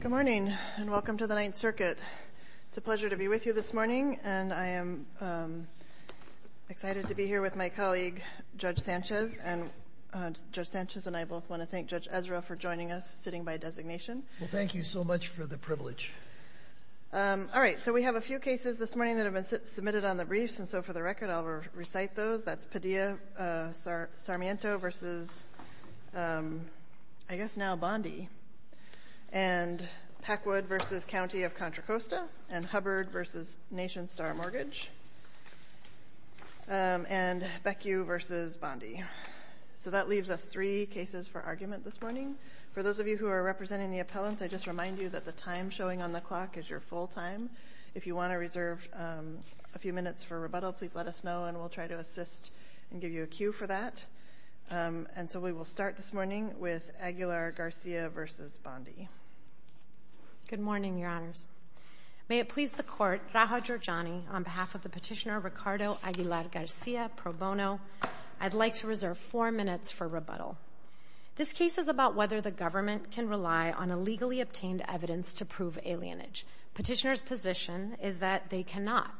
Good morning and welcome to the Ninth Circuit. It's a pleasure to be with you this morning and I am excited to be here with my colleague Judge Sanchez. Judge Sanchez and I both want to thank Judge Ezra for joining us sitting by designation. Thank you so much for the privilege. All right, so we have a few cases this morning that have been submitted on the briefs and so for the record, I'll recite those. That's Padilla-Sarmiento versus, I guess now Bondi, and Packwood versus County of Contra Costa, and Hubbard versus Nation Star Mortgage, and Beckue versus Bondi. So that leaves us three cases for argument this morning. For those of you who are representing the appellants, I just remind you that the time showing on the clock is your full time. If you want to reserve a few minutes for rebuttal, please let us know and we'll try to assist and give you a cue for that. And so we will start this morning with Aguilar Garcia versus Bondi. Good morning, Your Honors. May it please the Court, Raja Giorgiani, on behalf of the petitioner Ricardo Aguilar Garcia, pro bono, I'd like to reserve four minutes for rebuttal. This case is about whether the government can rely on illegally obtained evidence to prove alienage. Petitioner's position is that they cannot,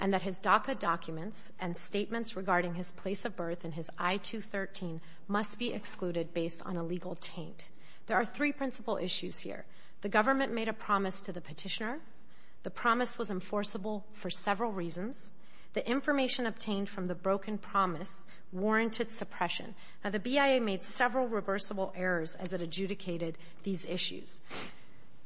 and that his DACA documents and statements regarding his place of birth and his I-213 must be excluded based on a legal taint. There are three principal issues here. The government made a promise to the petitioner. The promise was enforceable for several reasons. The information obtained from the broken promise warranted oppression. Now, the BIA made several reversible errors as it adjudicated these issues.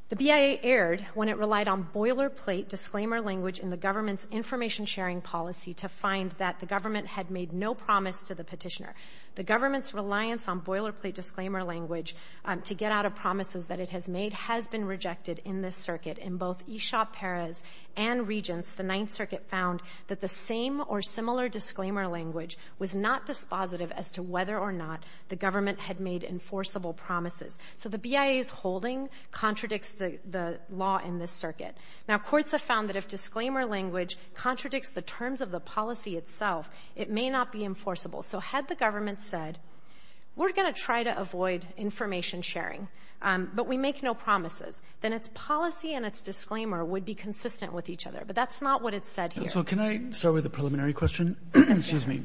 The BIA erred when it relied on boilerplate disclaimer language in the government's information-sharing policy to find that the government had made no promise to the petitioner. The government's reliance on boilerplate disclaimer language to get out of promises that it has made has been rejected in this circuit. In both Eshop Perez and Regence, the Ninth Circuit found that the same or similar disclaimer language was not dispositive as to whether or not the government had made enforceable promises. So the BIA's holding contradicts the law in this circuit. Now, courts have found that if disclaimer language contradicts the terms of the policy itself, it may not be enforceable. So had the government said, we're going to try to avoid information sharing, but we make no promises, then its policy and its disclaimer would be consistent with each other. But that's not what it said here. So can I start with the preliminary question? Excuse me.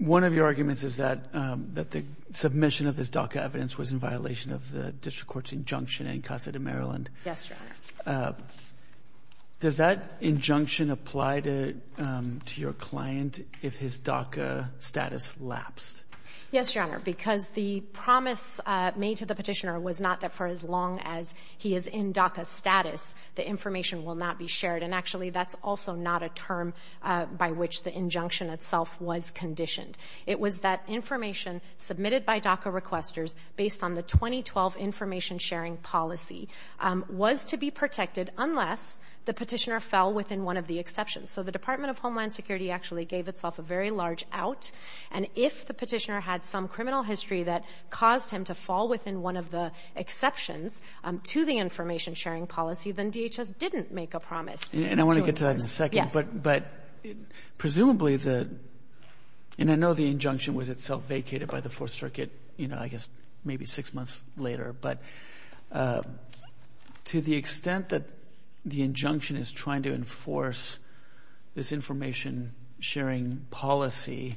One of your arguments is that the submission of this DACA evidence was in violation of the district court's injunction in Casa de Maryland. Yes, Your Honor. Does that injunction apply to your client if his DACA status lapsed? Yes, Your Honor, because the promise made to the petitioner was not that for as long as he is in DACA status, the information will not be shared. And actually, that's also not a term by which the injunction itself was conditioned. It was that information submitted by DACA requesters based on the 2012 information sharing policy was to be protected unless the petitioner fell within one of the exceptions. So the Department of Homeland Security actually gave itself a very large out. And if the petitioner had some criminal history that caused him to fall within one of the exceptions to the information sharing policy, then DHS didn't make a promise. And I want to get to that in a second, but presumably the, and I know the injunction was itself vacated by the Fourth Circuit, you know, I guess maybe six months later, but to the extent that the injunction is trying to enforce this information sharing policy,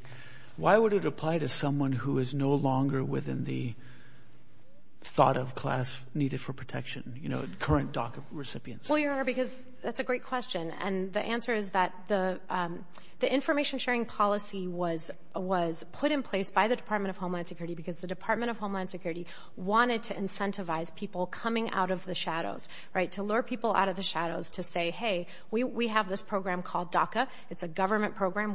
why would it apply to someone who is no longer within the thought of class needed for protection, you know, current DACA recipients? Well, Your Honor, because that's a great question. And the answer is that the information sharing policy was put in place by the Department of Homeland Security because the Department of Homeland Security wanted to incentivize people coming out of the shadows, right, to lure people out of the shadows to say, hey, we have this program called DACA. It's a government program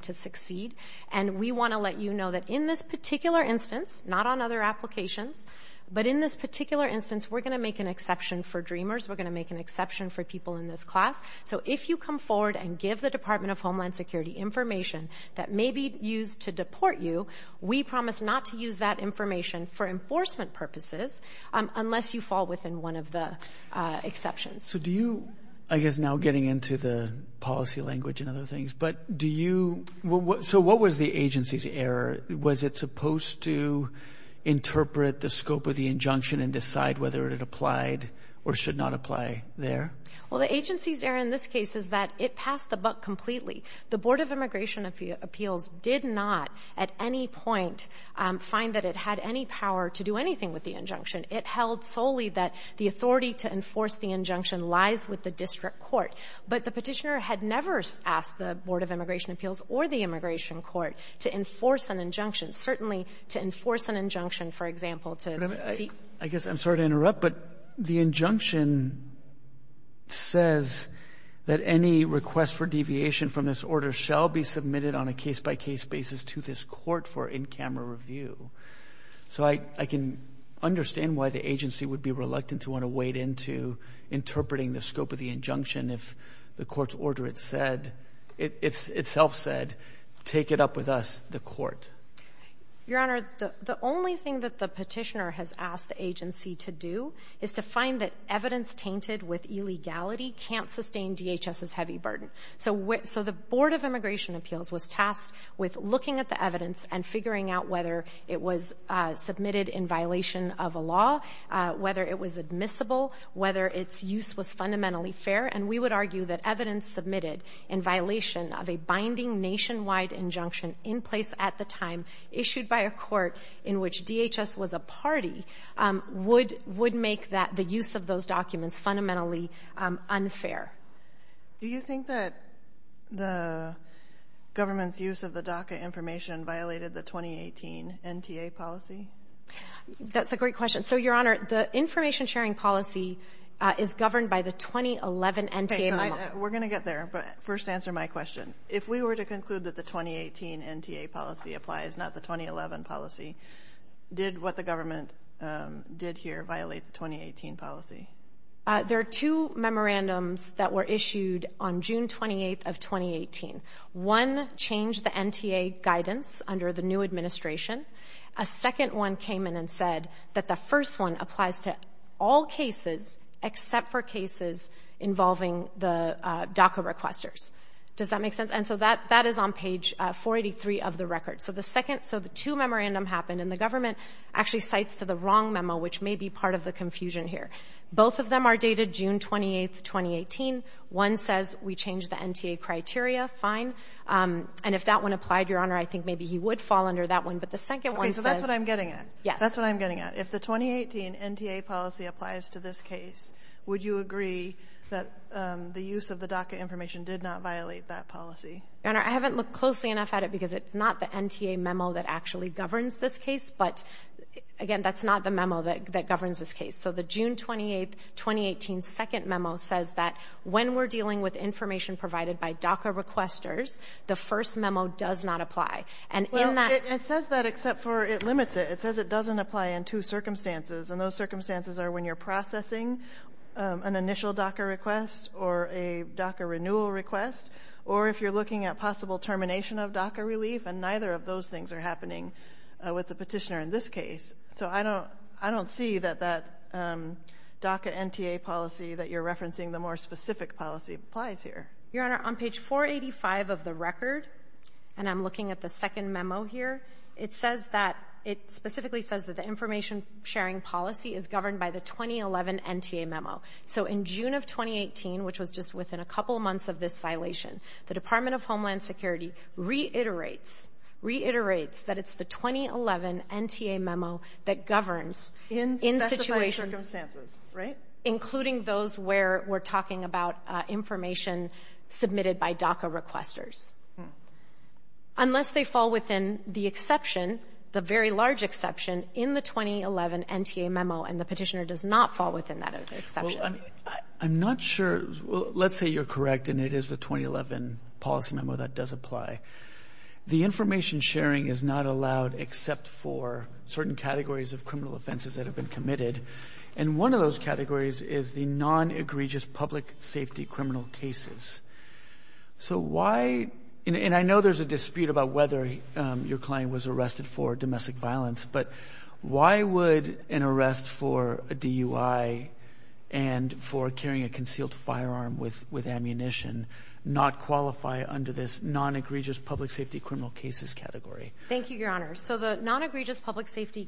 to succeed. And we want to let you know that in this particular instance, not on other applications, but in this particular instance, we're going to make an exception for DREAMers. We're going to make an exception for people in this class. So if you come forward and give the Department of Homeland Security information that may be used to deport you, we promise not to use that information for enforcement purposes unless you fall within one of the exceptions. So do you, I guess now getting into the policy language and other things, but do you, so what was the agency's error? Was it supposed to interpret the scope of the injunction and decide whether it applied or should not apply there? Well, the agency's error in this case is that it passed the buck completely. The Board of Immigration Appeals did not at any point find that it had any power to do anything with the injunction. It held solely that the authority to enforce the injunction lies with the district court. But the petitioner had never asked the Board of Immigration Appeals or the Immigration Court to enforce an injunction, certainly to enforce an injunction, for example, to see — I guess I'm sorry to interrupt, but the injunction says that any request for deviation from this order shall be submitted on a case-by-case basis to this court for in-camera review. So I can understand why the agency would be reluctant to want to wade into interpreting the scope of the injunction if the court's order itself said, take it up with us, the Your Honor, the only thing that the petitioner has asked the agency to do is to find that evidence tainted with illegality can't sustain DHS's heavy burden. So the Board of Immigration It was submitted in violation of a law, whether it was admissible, whether its use was fundamentally fair, and we would argue that evidence submitted in violation of a binding nationwide injunction in place at the time, issued by a court in which DHS was a party, would make the use of those documents fundamentally unfair. Do you think that the government's use of the DACA information violated the 2018 NTA policy? That's a great question. So, Your Honor, the information-sharing policy is governed by the 2011 NTA memo. We're going to get there, but first answer my question. If we were to conclude that the 2018 NTA policy applies, not the 2011 policy, did what the government did here violate the 2018 policy? There are two memorandums that were issued on June 28th of 2018. One changed the NTA guidance under the new administration. A second one came in and said that the first one applies to all cases except for cases involving the DACA requesters. Does that make sense? And so that is on page 483 of the record. So the second, so the two memorandum happened and the government actually cites to the wrong memo, which may be part of the confusion here. Both of them are dated June 28th, 2018. One says we changed the NTA criteria. Fine. And if that one applied, Your Honor, I think maybe he would fall under that one. But the second one says — Okay. So that's what I'm getting at. Yes. That's what I'm getting at. If the 2018 NTA policy applies to this case, would you agree that the use of the DACA information did not violate that policy? Your Honor, I haven't looked closely enough at it because it's not the NTA memo that actually governs this case. But again, that's not the memo that governs this case. So the June 28th, 2018 second memo says that when we're dealing with information provided by DACA requesters, the first memo does not apply. And in that — Well, it says that except for it limits it. It says it doesn't apply in two circumstances. And those circumstances are when you're processing an initial DACA request or a DACA renewal request or if you're looking at possible termination of DACA relief. And neither of those things are happening with the petitioner in this case. So I don't — I don't see that that DACA NTA policy that you're referencing, the more specific policy, applies here. Your Honor, on page 485 of the record, and I'm looking at the second memo here, it says that — it specifically says that the information-sharing policy is governed by the 2011 NTA memo. So in June of 2018, which was just within a couple months of this violation, the Department of Homeland Security reiterates — reiterates that it's the 2011 NTA memo that governs in situations — In specified circumstances, right? Including those where we're talking about information submitted by DACA requesters. Unless they fall within the exception, the very large exception, in the 2011 NTA memo. And the petitioner does not fall within that exception. Well, I'm not sure — let's say you're correct and it is the 2011 policy memo that does apply. The information-sharing is not allowed except for certain categories of criminal offenses that have been committed. And one of those categories is the non-egregious public safety criminal cases. So why — and I know there's a dispute about whether your client was arrested for domestic violence, but why would an arrest for a DUI and for carrying a concealed firearm with ammunition not qualify under this non-egregious public safety criminal cases category? Thank you, Your Honor. So the non-egregious public safety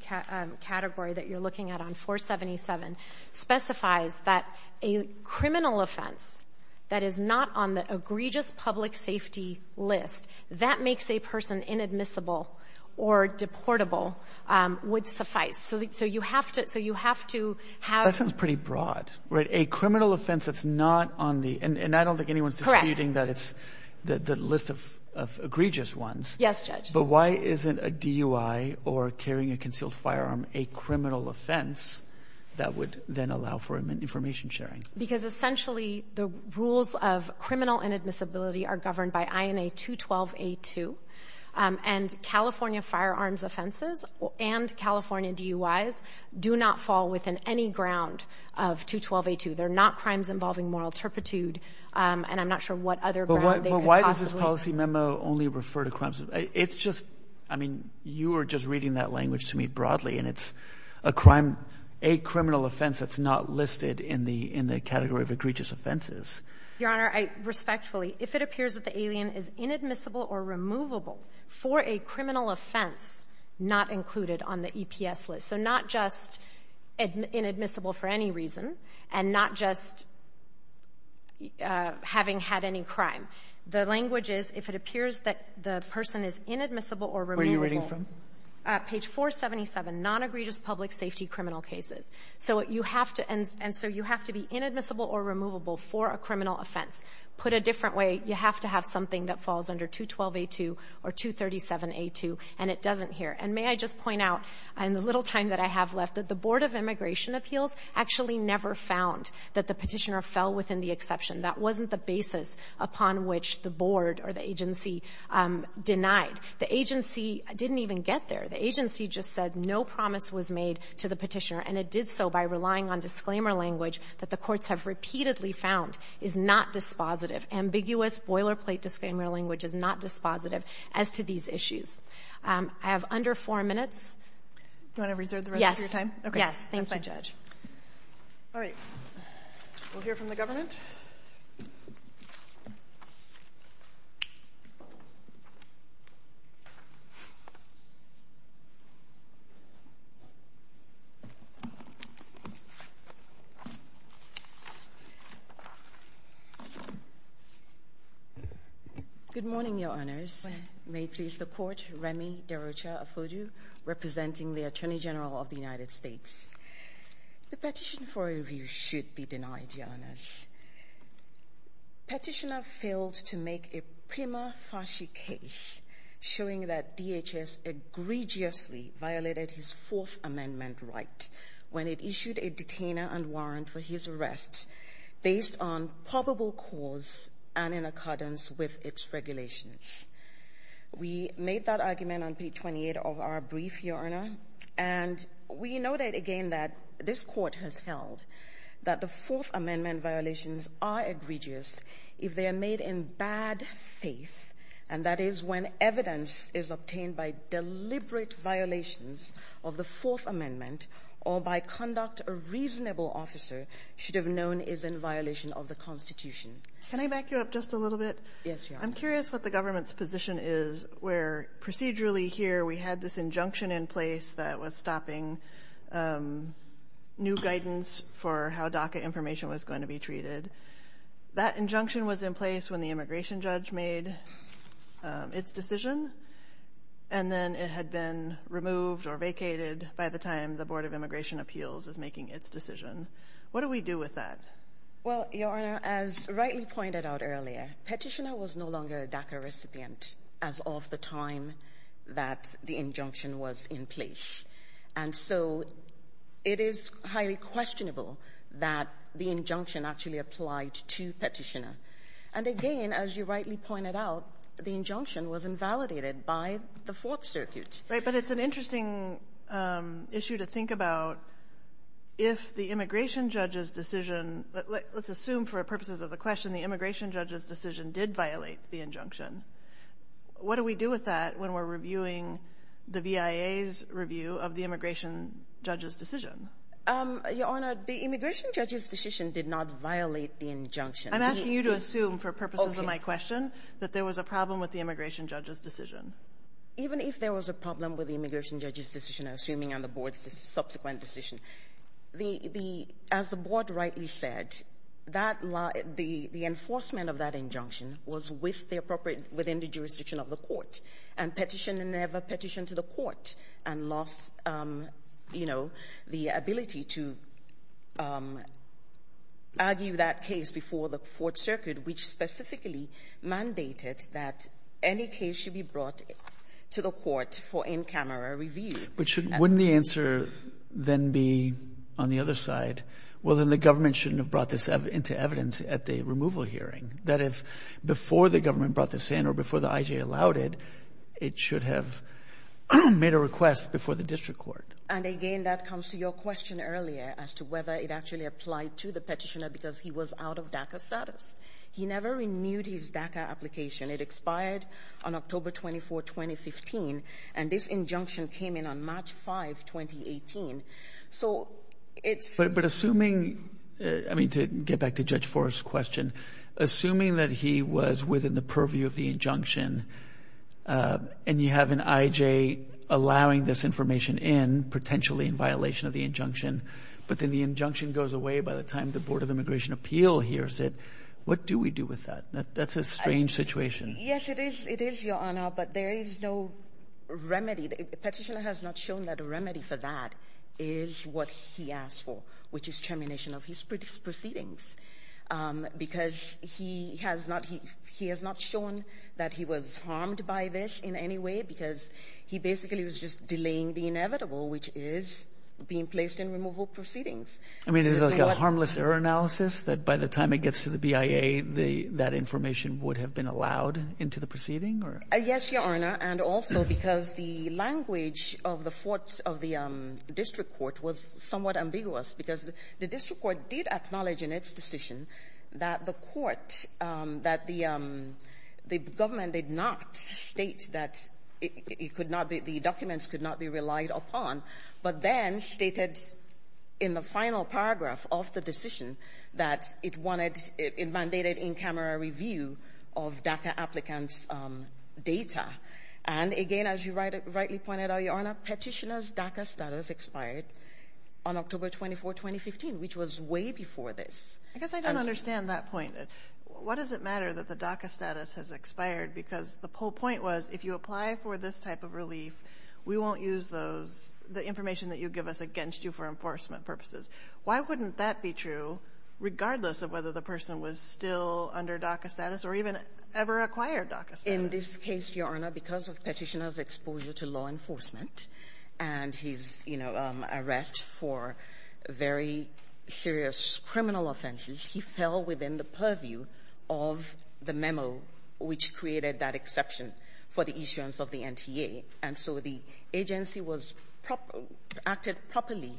category that you're looking at on 477 specifies that a criminal offense that is not on the egregious public safety list that makes a person inadmissible or deportable would suffice. So you have to — That sounds pretty broad, right? A criminal offense that's not on the — and I don't think anyone's disputing that it's the list of egregious ones. Yes, Judge. But why isn't a DUI or carrying a concealed firearm a criminal offense that would then allow for information sharing? Because essentially the rules of criminal inadmissibility are governed by INA 212A2. And California firearms offenses and California DUIs do not fall within any ground of 212A2. They're not crimes involving moral turpitude, and I'm not sure what other ground they could possibly — But why does this policy memo only refer to crimes — it's just — I mean, you were just reading that language to me broadly, and it's a crime — a criminal offense that's not listed in the category of egregious offenses. Your Honor, I respectfully — if it appears that the alien is inadmissible or removable for a criminal offense not included on the EPS list — so not just inadmissible for any reason and not just having had any crime. The language is if it appears that the person is inadmissible or removable — Where are you reading from? Page 477, non-egregious public safety criminal cases. So you have to — and so you have to be inadmissible or removable for a criminal offense. Put a different way, you have to have something that falls under 212A2 or 237A2, and it doesn't here. And may I just point out, in the little time that I have left, that the Board of Immigration Appeals actually never found that the Petitioner fell within the exception. That wasn't the basis upon which the Board or the agency denied. The agency didn't even get there. The agency just said no promise was made to the Petitioner, and it did so by relying on disclaimer language that the courts have repeatedly found is not dispositive. Ambiguous, boilerplate disclaimer language is not dispositive as to these issues. I have under four minutes. Do you want to reserve the rest of your time? Okay. Yes. That's fine. Thank you, Judge. All right. We'll hear from the government. Good morning, Your Honors. May it please the Court, Remy Derocha-Afuju, representing the Attorney General of the United States. The petition for review should be denied, Your Honors. Petitioner failed to make a prima facie case showing that DHS egregiously violated his Fourth Amendment right when it issued a detainer and warrant for his arrest based on probable cause and in accordance with its regulations. We made that argument on page 28 of our brief, Your Honor, and we noted again that this Court has held that the Fourth Amendment violations are egregious if they are made in bad faith, and that is when evidence is obtained by deliberate violations of the Fourth Amendment or by conduct a reasonable officer should have known is in violation of the Constitution. Can I back you up just a little bit? Yes, Your Honor. I'm curious what the government's position is where procedurally here we had this injunction in place that was stopping new guidance for how DACA information was going to be treated. That injunction was in place when the immigration judge made its decision, and then it had been removed or vacated by the time the Board of Immigration Appeals is making its decision. What do we do with that? Well, Your Honor, as rightly pointed out earlier, Petitioner was no longer a DACA recipient as of the time that the injunction was in place. And so it is highly questionable that the injunction actually applied to Petitioner. And again, as you rightly pointed out, the injunction was invalidated by the Fourth Circuit. Right, but it's an interesting issue to think about. If the immigration judge's decision, let's assume for purposes of the question the immigration judge's decision did violate the injunction, what do we do with that when we're reviewing the VIA's review of the immigration judge's decision? Your Honor, the immigration judge's decision did not violate the injunction. I'm asking you to assume for purposes of my question that there was a problem with the immigration judge's decision. Even if there was a problem with the immigration judge's decision, assuming on the Board's subsequent decision, the — the — as the Board rightly said, that — the enforcement of that injunction was with the appropriate — within the jurisdiction of the court. And Petitioner never petitioned to the court and lost, you know, the ability to argue that case before the Fourth Circuit, which specifically mandated that any case should be brought to the court for in-camera review. But shouldn't — wouldn't the answer then be on the other side, well, then the government shouldn't have brought this into evidence at the removal hearing. That if before the government brought this in or before the IJA allowed it, it should have made a request before the district court. And again, that comes to your question earlier as to whether it actually applied to the Petitioner because he was out of DACA status. He never renewed his DACA application. It expired on October 24, 2015, and this injunction came in on March 5, 2018. So it's — But assuming — I mean, to get back to Judge Forrest's question, assuming that he was within the purview of the injunction, and you have an IJA allowing this information in, potentially in violation of the injunction, but then the injunction goes away by the time the Board of Immigration Appeal hears it, what do we do with that? That's a strange situation. Yes, it is. It is, Your Honor. But there is no remedy. Petitioner has not shown that a remedy for that is what he asked for, which is termination of his proceedings because he has not — he has not shown that he was harmed by this in any way because he basically was just delaying the inevitable, which is being placed in removal proceedings. I mean, is it like a harmless error analysis, that by the time it gets to the BIA, the — that information would have been allowed into the proceeding, or — Yes, Your Honor, and also because the language of the courts of the district court was somewhat ambiguous because the district court did acknowledge in its decision that the court — that the government did not state that it could not be — the documents could not be relied upon, but then stated in the final paragraph of the decision that it wanted — it mandated in-camera review of DACA applicants' data. And again, as you rightly pointed out, Your Honor, Petitioner's DACA status expired on October 24, 2015, which was way before this. I guess I don't understand that point. What does it matter that the DACA status has expired? Because the whole point was, if you apply for this type of relief, we won't use those — the information that you give us against you for enforcement purposes. Why wouldn't that be true, regardless of whether the person was still under DACA status or even ever acquired DACA status? In this case, Your Honor, because of Petitioner's exposure to law enforcement and his, you know, arrest for very serious criminal offenses, he fell within the purview of the memo which created that exception for the issuance of the NTA. And so the agency was — acted properly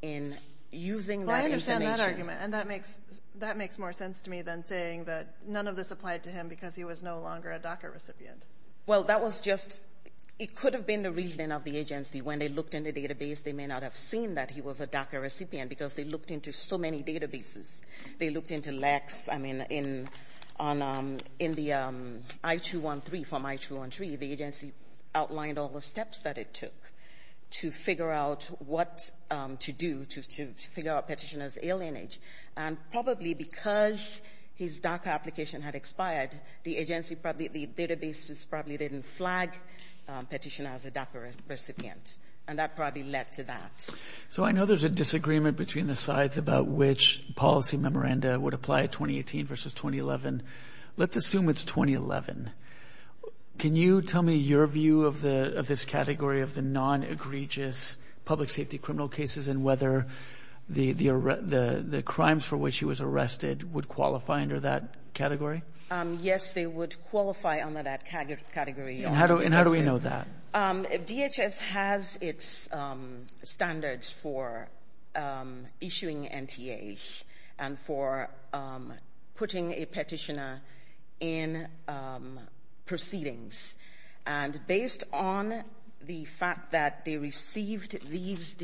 in using that information. Well, I understand that argument. And that makes — that makes more sense to me than saying that none of this applied to him because he was no longer a DACA recipient. Well, that was just — it could have been the reasoning of the agency. When they looked in the database, they may not have seen that he was a DACA recipient because they looked into so many databases. They looked into Lex. I mean, in — on — in the I-213, from I-213, the agency outlined all the steps that it took to figure out what to do to — to figure out Petitioner's alienage. And probably because his DACA application had expired, the agency probably — the databases probably didn't flag Petitioner as a DACA recipient. And that probably led to that. So I know there's a disagreement between the sides about which policy memoranda would apply in 2018 versus 2011. Let's assume it's 2011. Can you tell me your view of the — of this category of the non-egregious public safety criminal cases and whether the — the crimes for which he was arrested would qualify under that category? Yes, they would qualify under that category. And how do — and how do we know that? DHS has its standards for issuing NTAs and for putting a Petitioner in proceedings. And based on the fact that they received these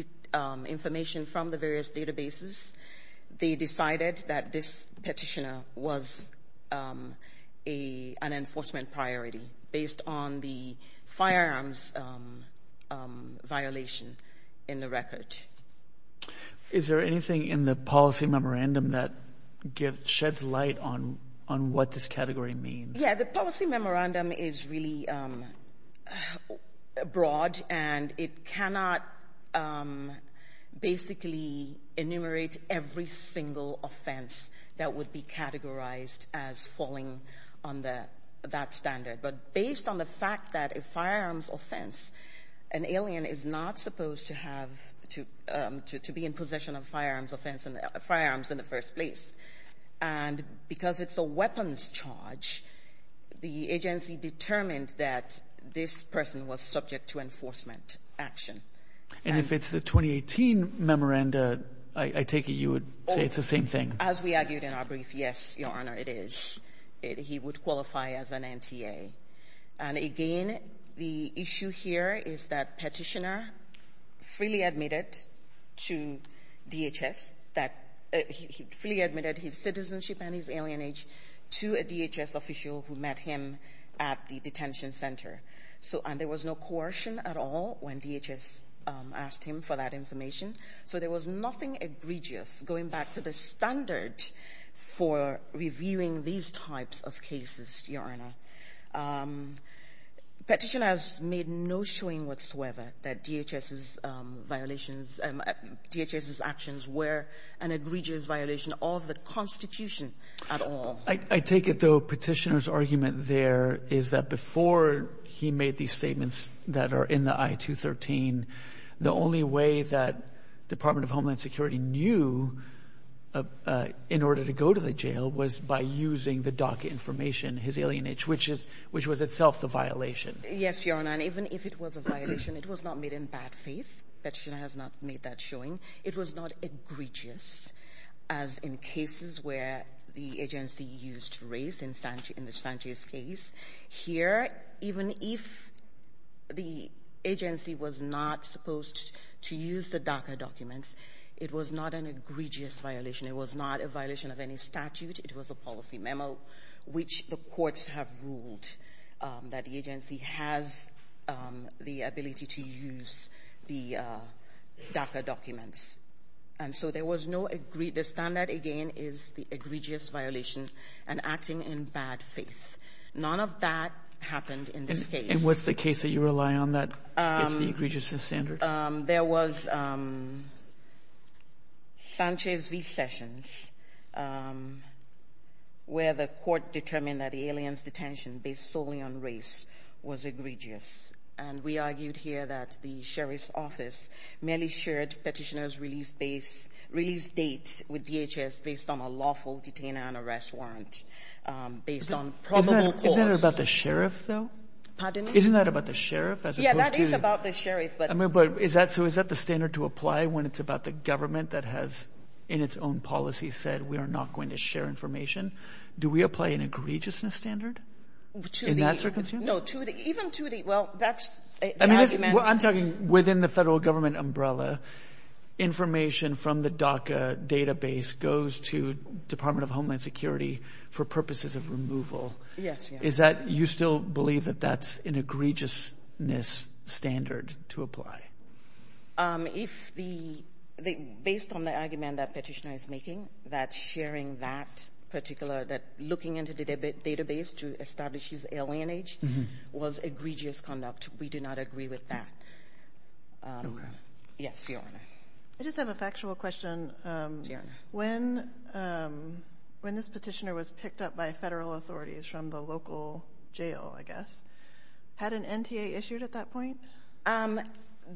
information from the various databases, they decided that this Petitioner was an enforcement priority based on the firearms violation in the record. Is there anything in the policy memorandum that gives — sheds light on — on what this category means? Yeah, the policy memorandum is really broad. And it cannot basically enumerate every single offense that would be categorized as falling under that standard. But based on the fact that a firearms offense, an alien is not supposed to have — to be in possession of firearms offense — firearms in the first place. And because it's a weapons charge, the agency determined that this person was subject to enforcement action. And if it's the 2018 memoranda, I take it you would say it's the same thing? As we argued in our brief, yes, Your Honor, it is. He would qualify as an NTA. And again, the issue here is that Petitioner freely admitted to DHS that — he freely admitted his citizenship and his alienage to a DHS official who met him at the detention center. So — and there was no coercion at all when DHS asked him for that information. So there was nothing egregious, going back to the standard for reviewing these types of cases, Your Honor. Petitioner has made no showing whatsoever that DHS's violations — DHS's actions were an egregious violation of the Constitution at all. I take it, though, Petitioner's argument there is that before he made these statements that are in the I-213, the only way that Department of Homeland Security knew in order to go to the jail was by using the docket information, his alienage, which is — which was itself the violation. Yes, Your Honor. And even if it was a violation, it was not made in bad faith that Petitioner has not made that showing. It was not egregious, as in cases where the agency used race in the Sanchez case. Here, even if the agency was not supposed to use the DACA documents, it was not an egregious violation. It was not a violation of any statute. It was a policy memo, which the courts have ruled that the agency has the ability to use the DACA documents. And so there was no — the standard, again, is the egregious violation and acting in bad faith. None of that happened in this case. And what's the case that you rely on that gets the egregiousness standard? There was Sanchez v. Sessions, where the court determined that the aliens' detention, based solely on race, was egregious. And we argued here that the sheriff's office merely shared Petitioner's release dates with DHS based on a lawful detainer and arrest warrant, based on probable cause. Isn't that about the sheriff, though? Pardon me? Isn't that about the sheriff, as opposed to — Yeah, that is about the sheriff, but — I mean, but is that — so is that the standard to apply when it's about the government that has, in its own policy, said, we are not going to share information? Do we apply an egregiousness standard in that circumstance? No, to the — even to the — well, that's — I mean, I'm talking within the federal government umbrella. Information from the DACA database goes to Department of Homeland Security for purposes of removal. Yes, yes. Is that — you still believe that that's an egregiousness standard to apply? If the — based on the argument that Petitioner is making, that sharing that particular — that establishes alienage was egregious conduct, we do not agree with that. Okay. Yes, Your Honor. I just have a factual question. When this petitioner was picked up by federal authorities from the local jail, I guess, had an NTA issued at that point?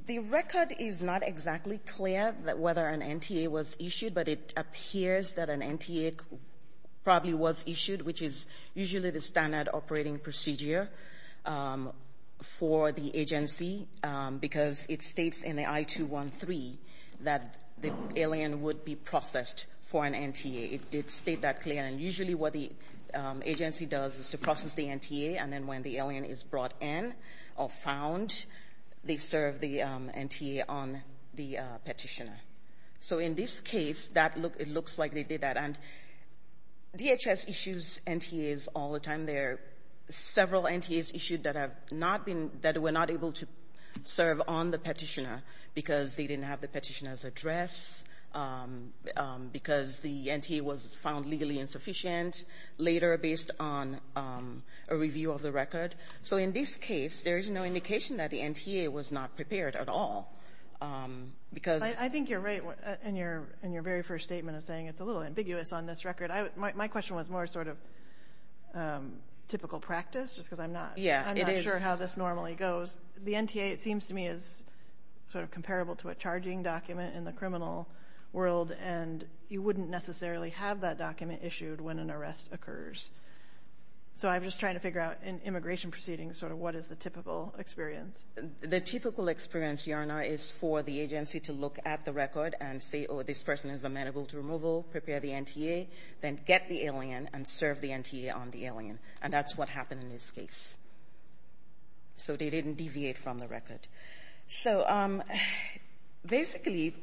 The record is not exactly clear whether an NTA was issued, but it appears that an NTA probably was issued, which is usually the standard operating procedure for the agency, because it states in the I-213 that the alien would be processed for an NTA. It did state that clear, and usually what the agency does is to process the NTA, and then when the alien is brought in or found, they serve the NTA on the petitioner. So in this case, that looks — it looks like they did that, and DHS issues NTAs all the time. There are several NTAs issued that have not been — that were not able to serve on the petitioner because they didn't have the petitioner's address, because the NTA was found legally insufficient later based on a review of the record. So in this case, there is no indication that the NTA was not prepared at all, because — Well, I think you're right in your very first statement of saying it's a little ambiguous on this record. My question was more sort of typical practice, just because I'm not — Yeah, it is. I'm not sure how this normally goes. The NTA, it seems to me, is sort of comparable to a charging document in the criminal world, and you wouldn't necessarily have that document issued when an arrest occurs. So I'm just trying to figure out, in immigration proceedings, sort of what is the typical experience? The typical experience, Your Honor, is for the agency to look at the record and say, oh, this person is amenable to removal, prepare the NTA, then get the alien and serve the NTA on the alien, and that's what happened in this case. So they didn't deviate from the record. So basically,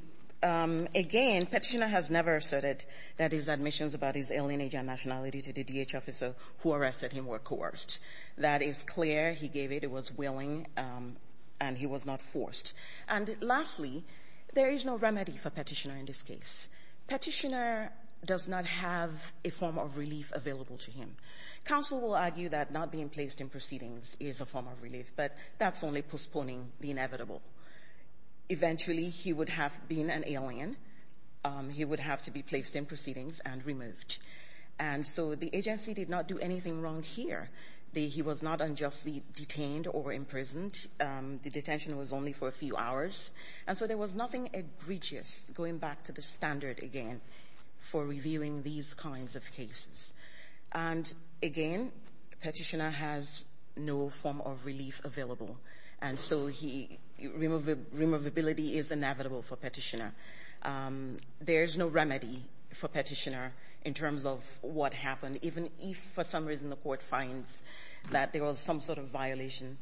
again, petitioner has never asserted that his admissions about his alien agent nationality to the DHS officer who arrested him were coerced. That is clear. He gave it. He was willing, and he was not forced. And lastly, there is no remedy for petitioner in this case. Petitioner does not have a form of relief available to him. Counsel will argue that not being placed in proceedings is a form of relief, but that's only postponing the inevitable. Eventually, he would have been an alien. He would have to be placed in proceedings and removed. And so the agency did not do anything wrong here. He was not unjustly detained or imprisoned. The detention was only for a few hours. And so there was nothing egregious, going back to the standard again, for reviewing these kinds of cases. And again, petitioner has no form of relief available. And so removability is inevitable for petitioner. There's no remedy for petitioner in terms of what happened, even if for some reason the court finds that there was some sort of violation.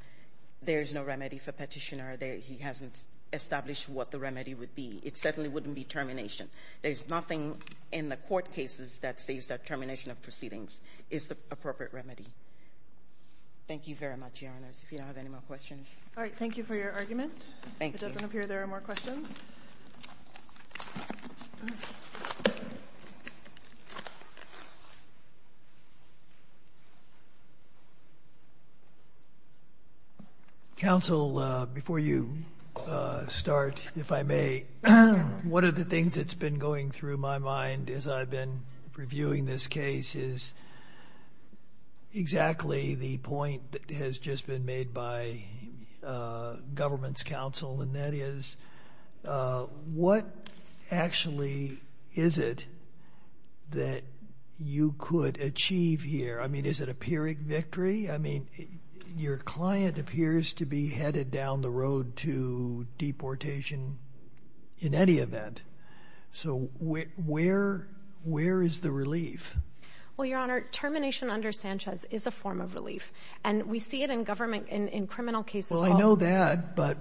There's no remedy for petitioner. He hasn't established what the remedy would be. It certainly wouldn't be termination. There's nothing in the court cases that states that termination of proceedings is the appropriate remedy. Thank you very much, Your Honors. If you don't have any more questions. All right. Thank you for your argument. Thank you. If it doesn't appear, there are more questions. Counsel, before you start, if I may, one of the things that's been going through my mind as I've been reviewing this case is exactly the point that has just been made by government's counsel. And that is, what actually is it that you could achieve here? I mean, is it a Pyrrhic victory? I mean, your client appears to be headed down the road to deportation in any event. So where is the relief? Well, Your Honor, termination under Sanchez is a form of relief. And we see it in government, in criminal cases. Well, I know that, but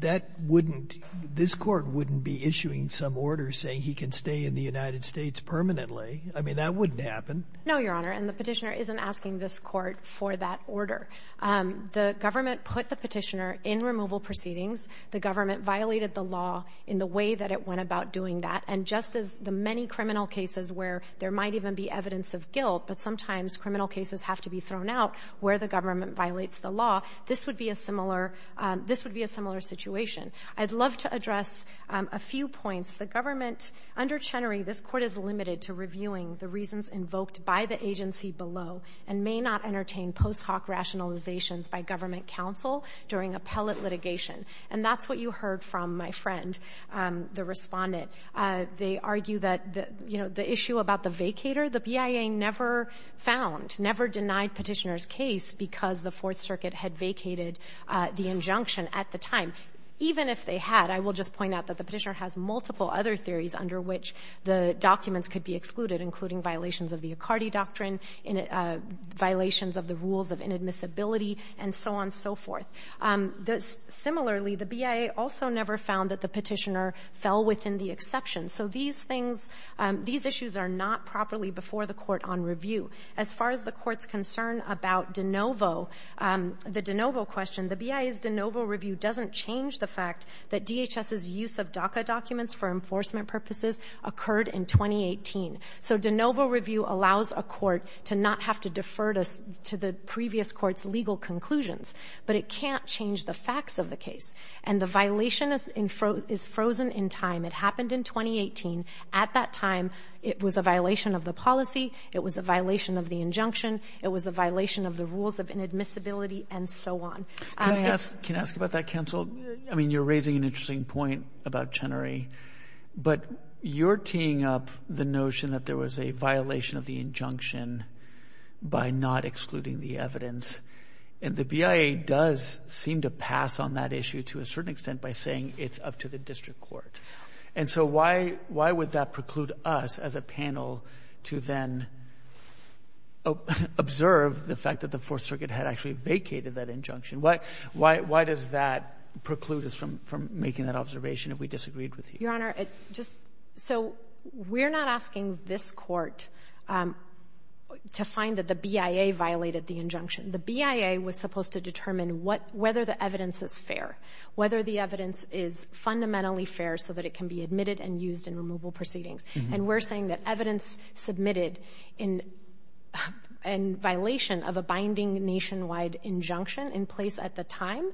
that wouldn't — this Court wouldn't be issuing some order saying he can stay in the United States permanently. I mean, that wouldn't happen. No, Your Honor. And the Petitioner isn't asking this Court for that order. The government put the Petitioner in removal proceedings. The government violated the law in the way that it went about doing that. And just as the many criminal cases where there might even be evidence of guilt, but sometimes criminal cases have to be thrown out where the government violates the law, this would be a similar — this would be a similar situation. I'd love to address a few points. The government — under Chenery, this Court is limited to reviewing the reasons invoked by the agency below and may not entertain post hoc rationalizations by government counsel during appellate litigation. And that's what you heard from my friend, the Respondent. They argue that, you know, the issue about the vacator, the BIA never found, never denied Petitioner's case because the Fourth Circuit had vacated the injunction at the time. Even if they had, I will just point out that the Petitioner has multiple other theories under which the documents could be excluded, including violations of the Accardi Doctrine, violations of the rules of inadmissibility, and so on and so forth. Similarly, the BIA also never found that the Petitioner fell within the exception. So these things — these issues are not properly before the Court on review. As far as the Court's concern about De Novo, the De Novo question, the BIA's De Novo review doesn't change the fact that DHS's use of DACA documents for enforcement purposes occurred in 2018. So De Novo review allows a court to not have to defer to the previous court's legal conclusions, but it can't change the facts of the case. And the violation is frozen in time. It happened in 2018. At that time, it was a violation of the policy. It was a violation of the injunction. It was a violation of the rules of inadmissibility, and so on. Can I ask — can I ask about that, counsel? I mean, you're raising an interesting point about Chenery, but you're teeing up the notion that there was a violation of the injunction by not excluding the evidence. And the BIA does seem to pass on that issue to a certain extent by saying it's up to the district court. And so why would that preclude us as a panel to then observe the fact that the Fourth Circuit had actually vacated that injunction? Why does that preclude us from making that observation if we disagreed with you? Your Honor, just — so we're not asking this court to find that the BIA violated the injunction. The BIA was supposed to determine whether the evidence is fair, whether the evidence is fundamentally fair so that it can be admitted and used in removal proceedings. And we're saying that evidence submitted in violation of a binding nationwide injunction in place at the time,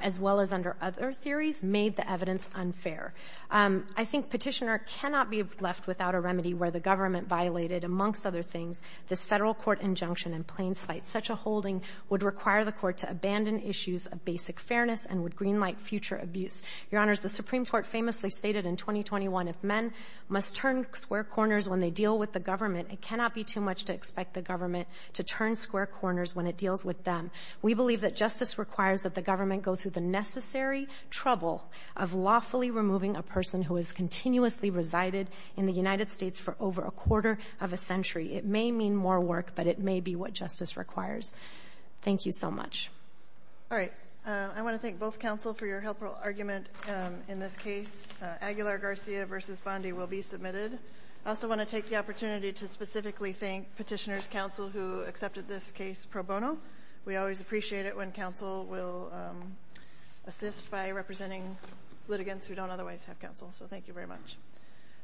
as well as under other theories, made the evidence unfair. I think Petitioner cannot be left without a remedy where the government violated, amongst other things, this Federal court injunction in Plains Fight. Such a holding would require the court to abandon issues of basic fairness and would greenlight future abuse. Your Honor, the Supreme Court famously stated in 2021, if men must turn square corners when they deal with the government, it cannot be too much to expect the government to turn square corners when it deals with them. We believe that justice requires that the government go through the necessary trouble of lawfully removing a person who has continuously resided in the United States for over a quarter of a century. It may mean more work, but it may be what justice requires. Thank you so much. All right. I want to thank both counsel for your helpful argument in this case. Aguilar-Garcia v. Bondi will be submitted. I also want to take the opportunity to specifically thank Petitioner's counsel who accepted this case pro bono. We always appreciate it when counsel will assist by representing litigants who don't otherwise have counsel. So thank you very much.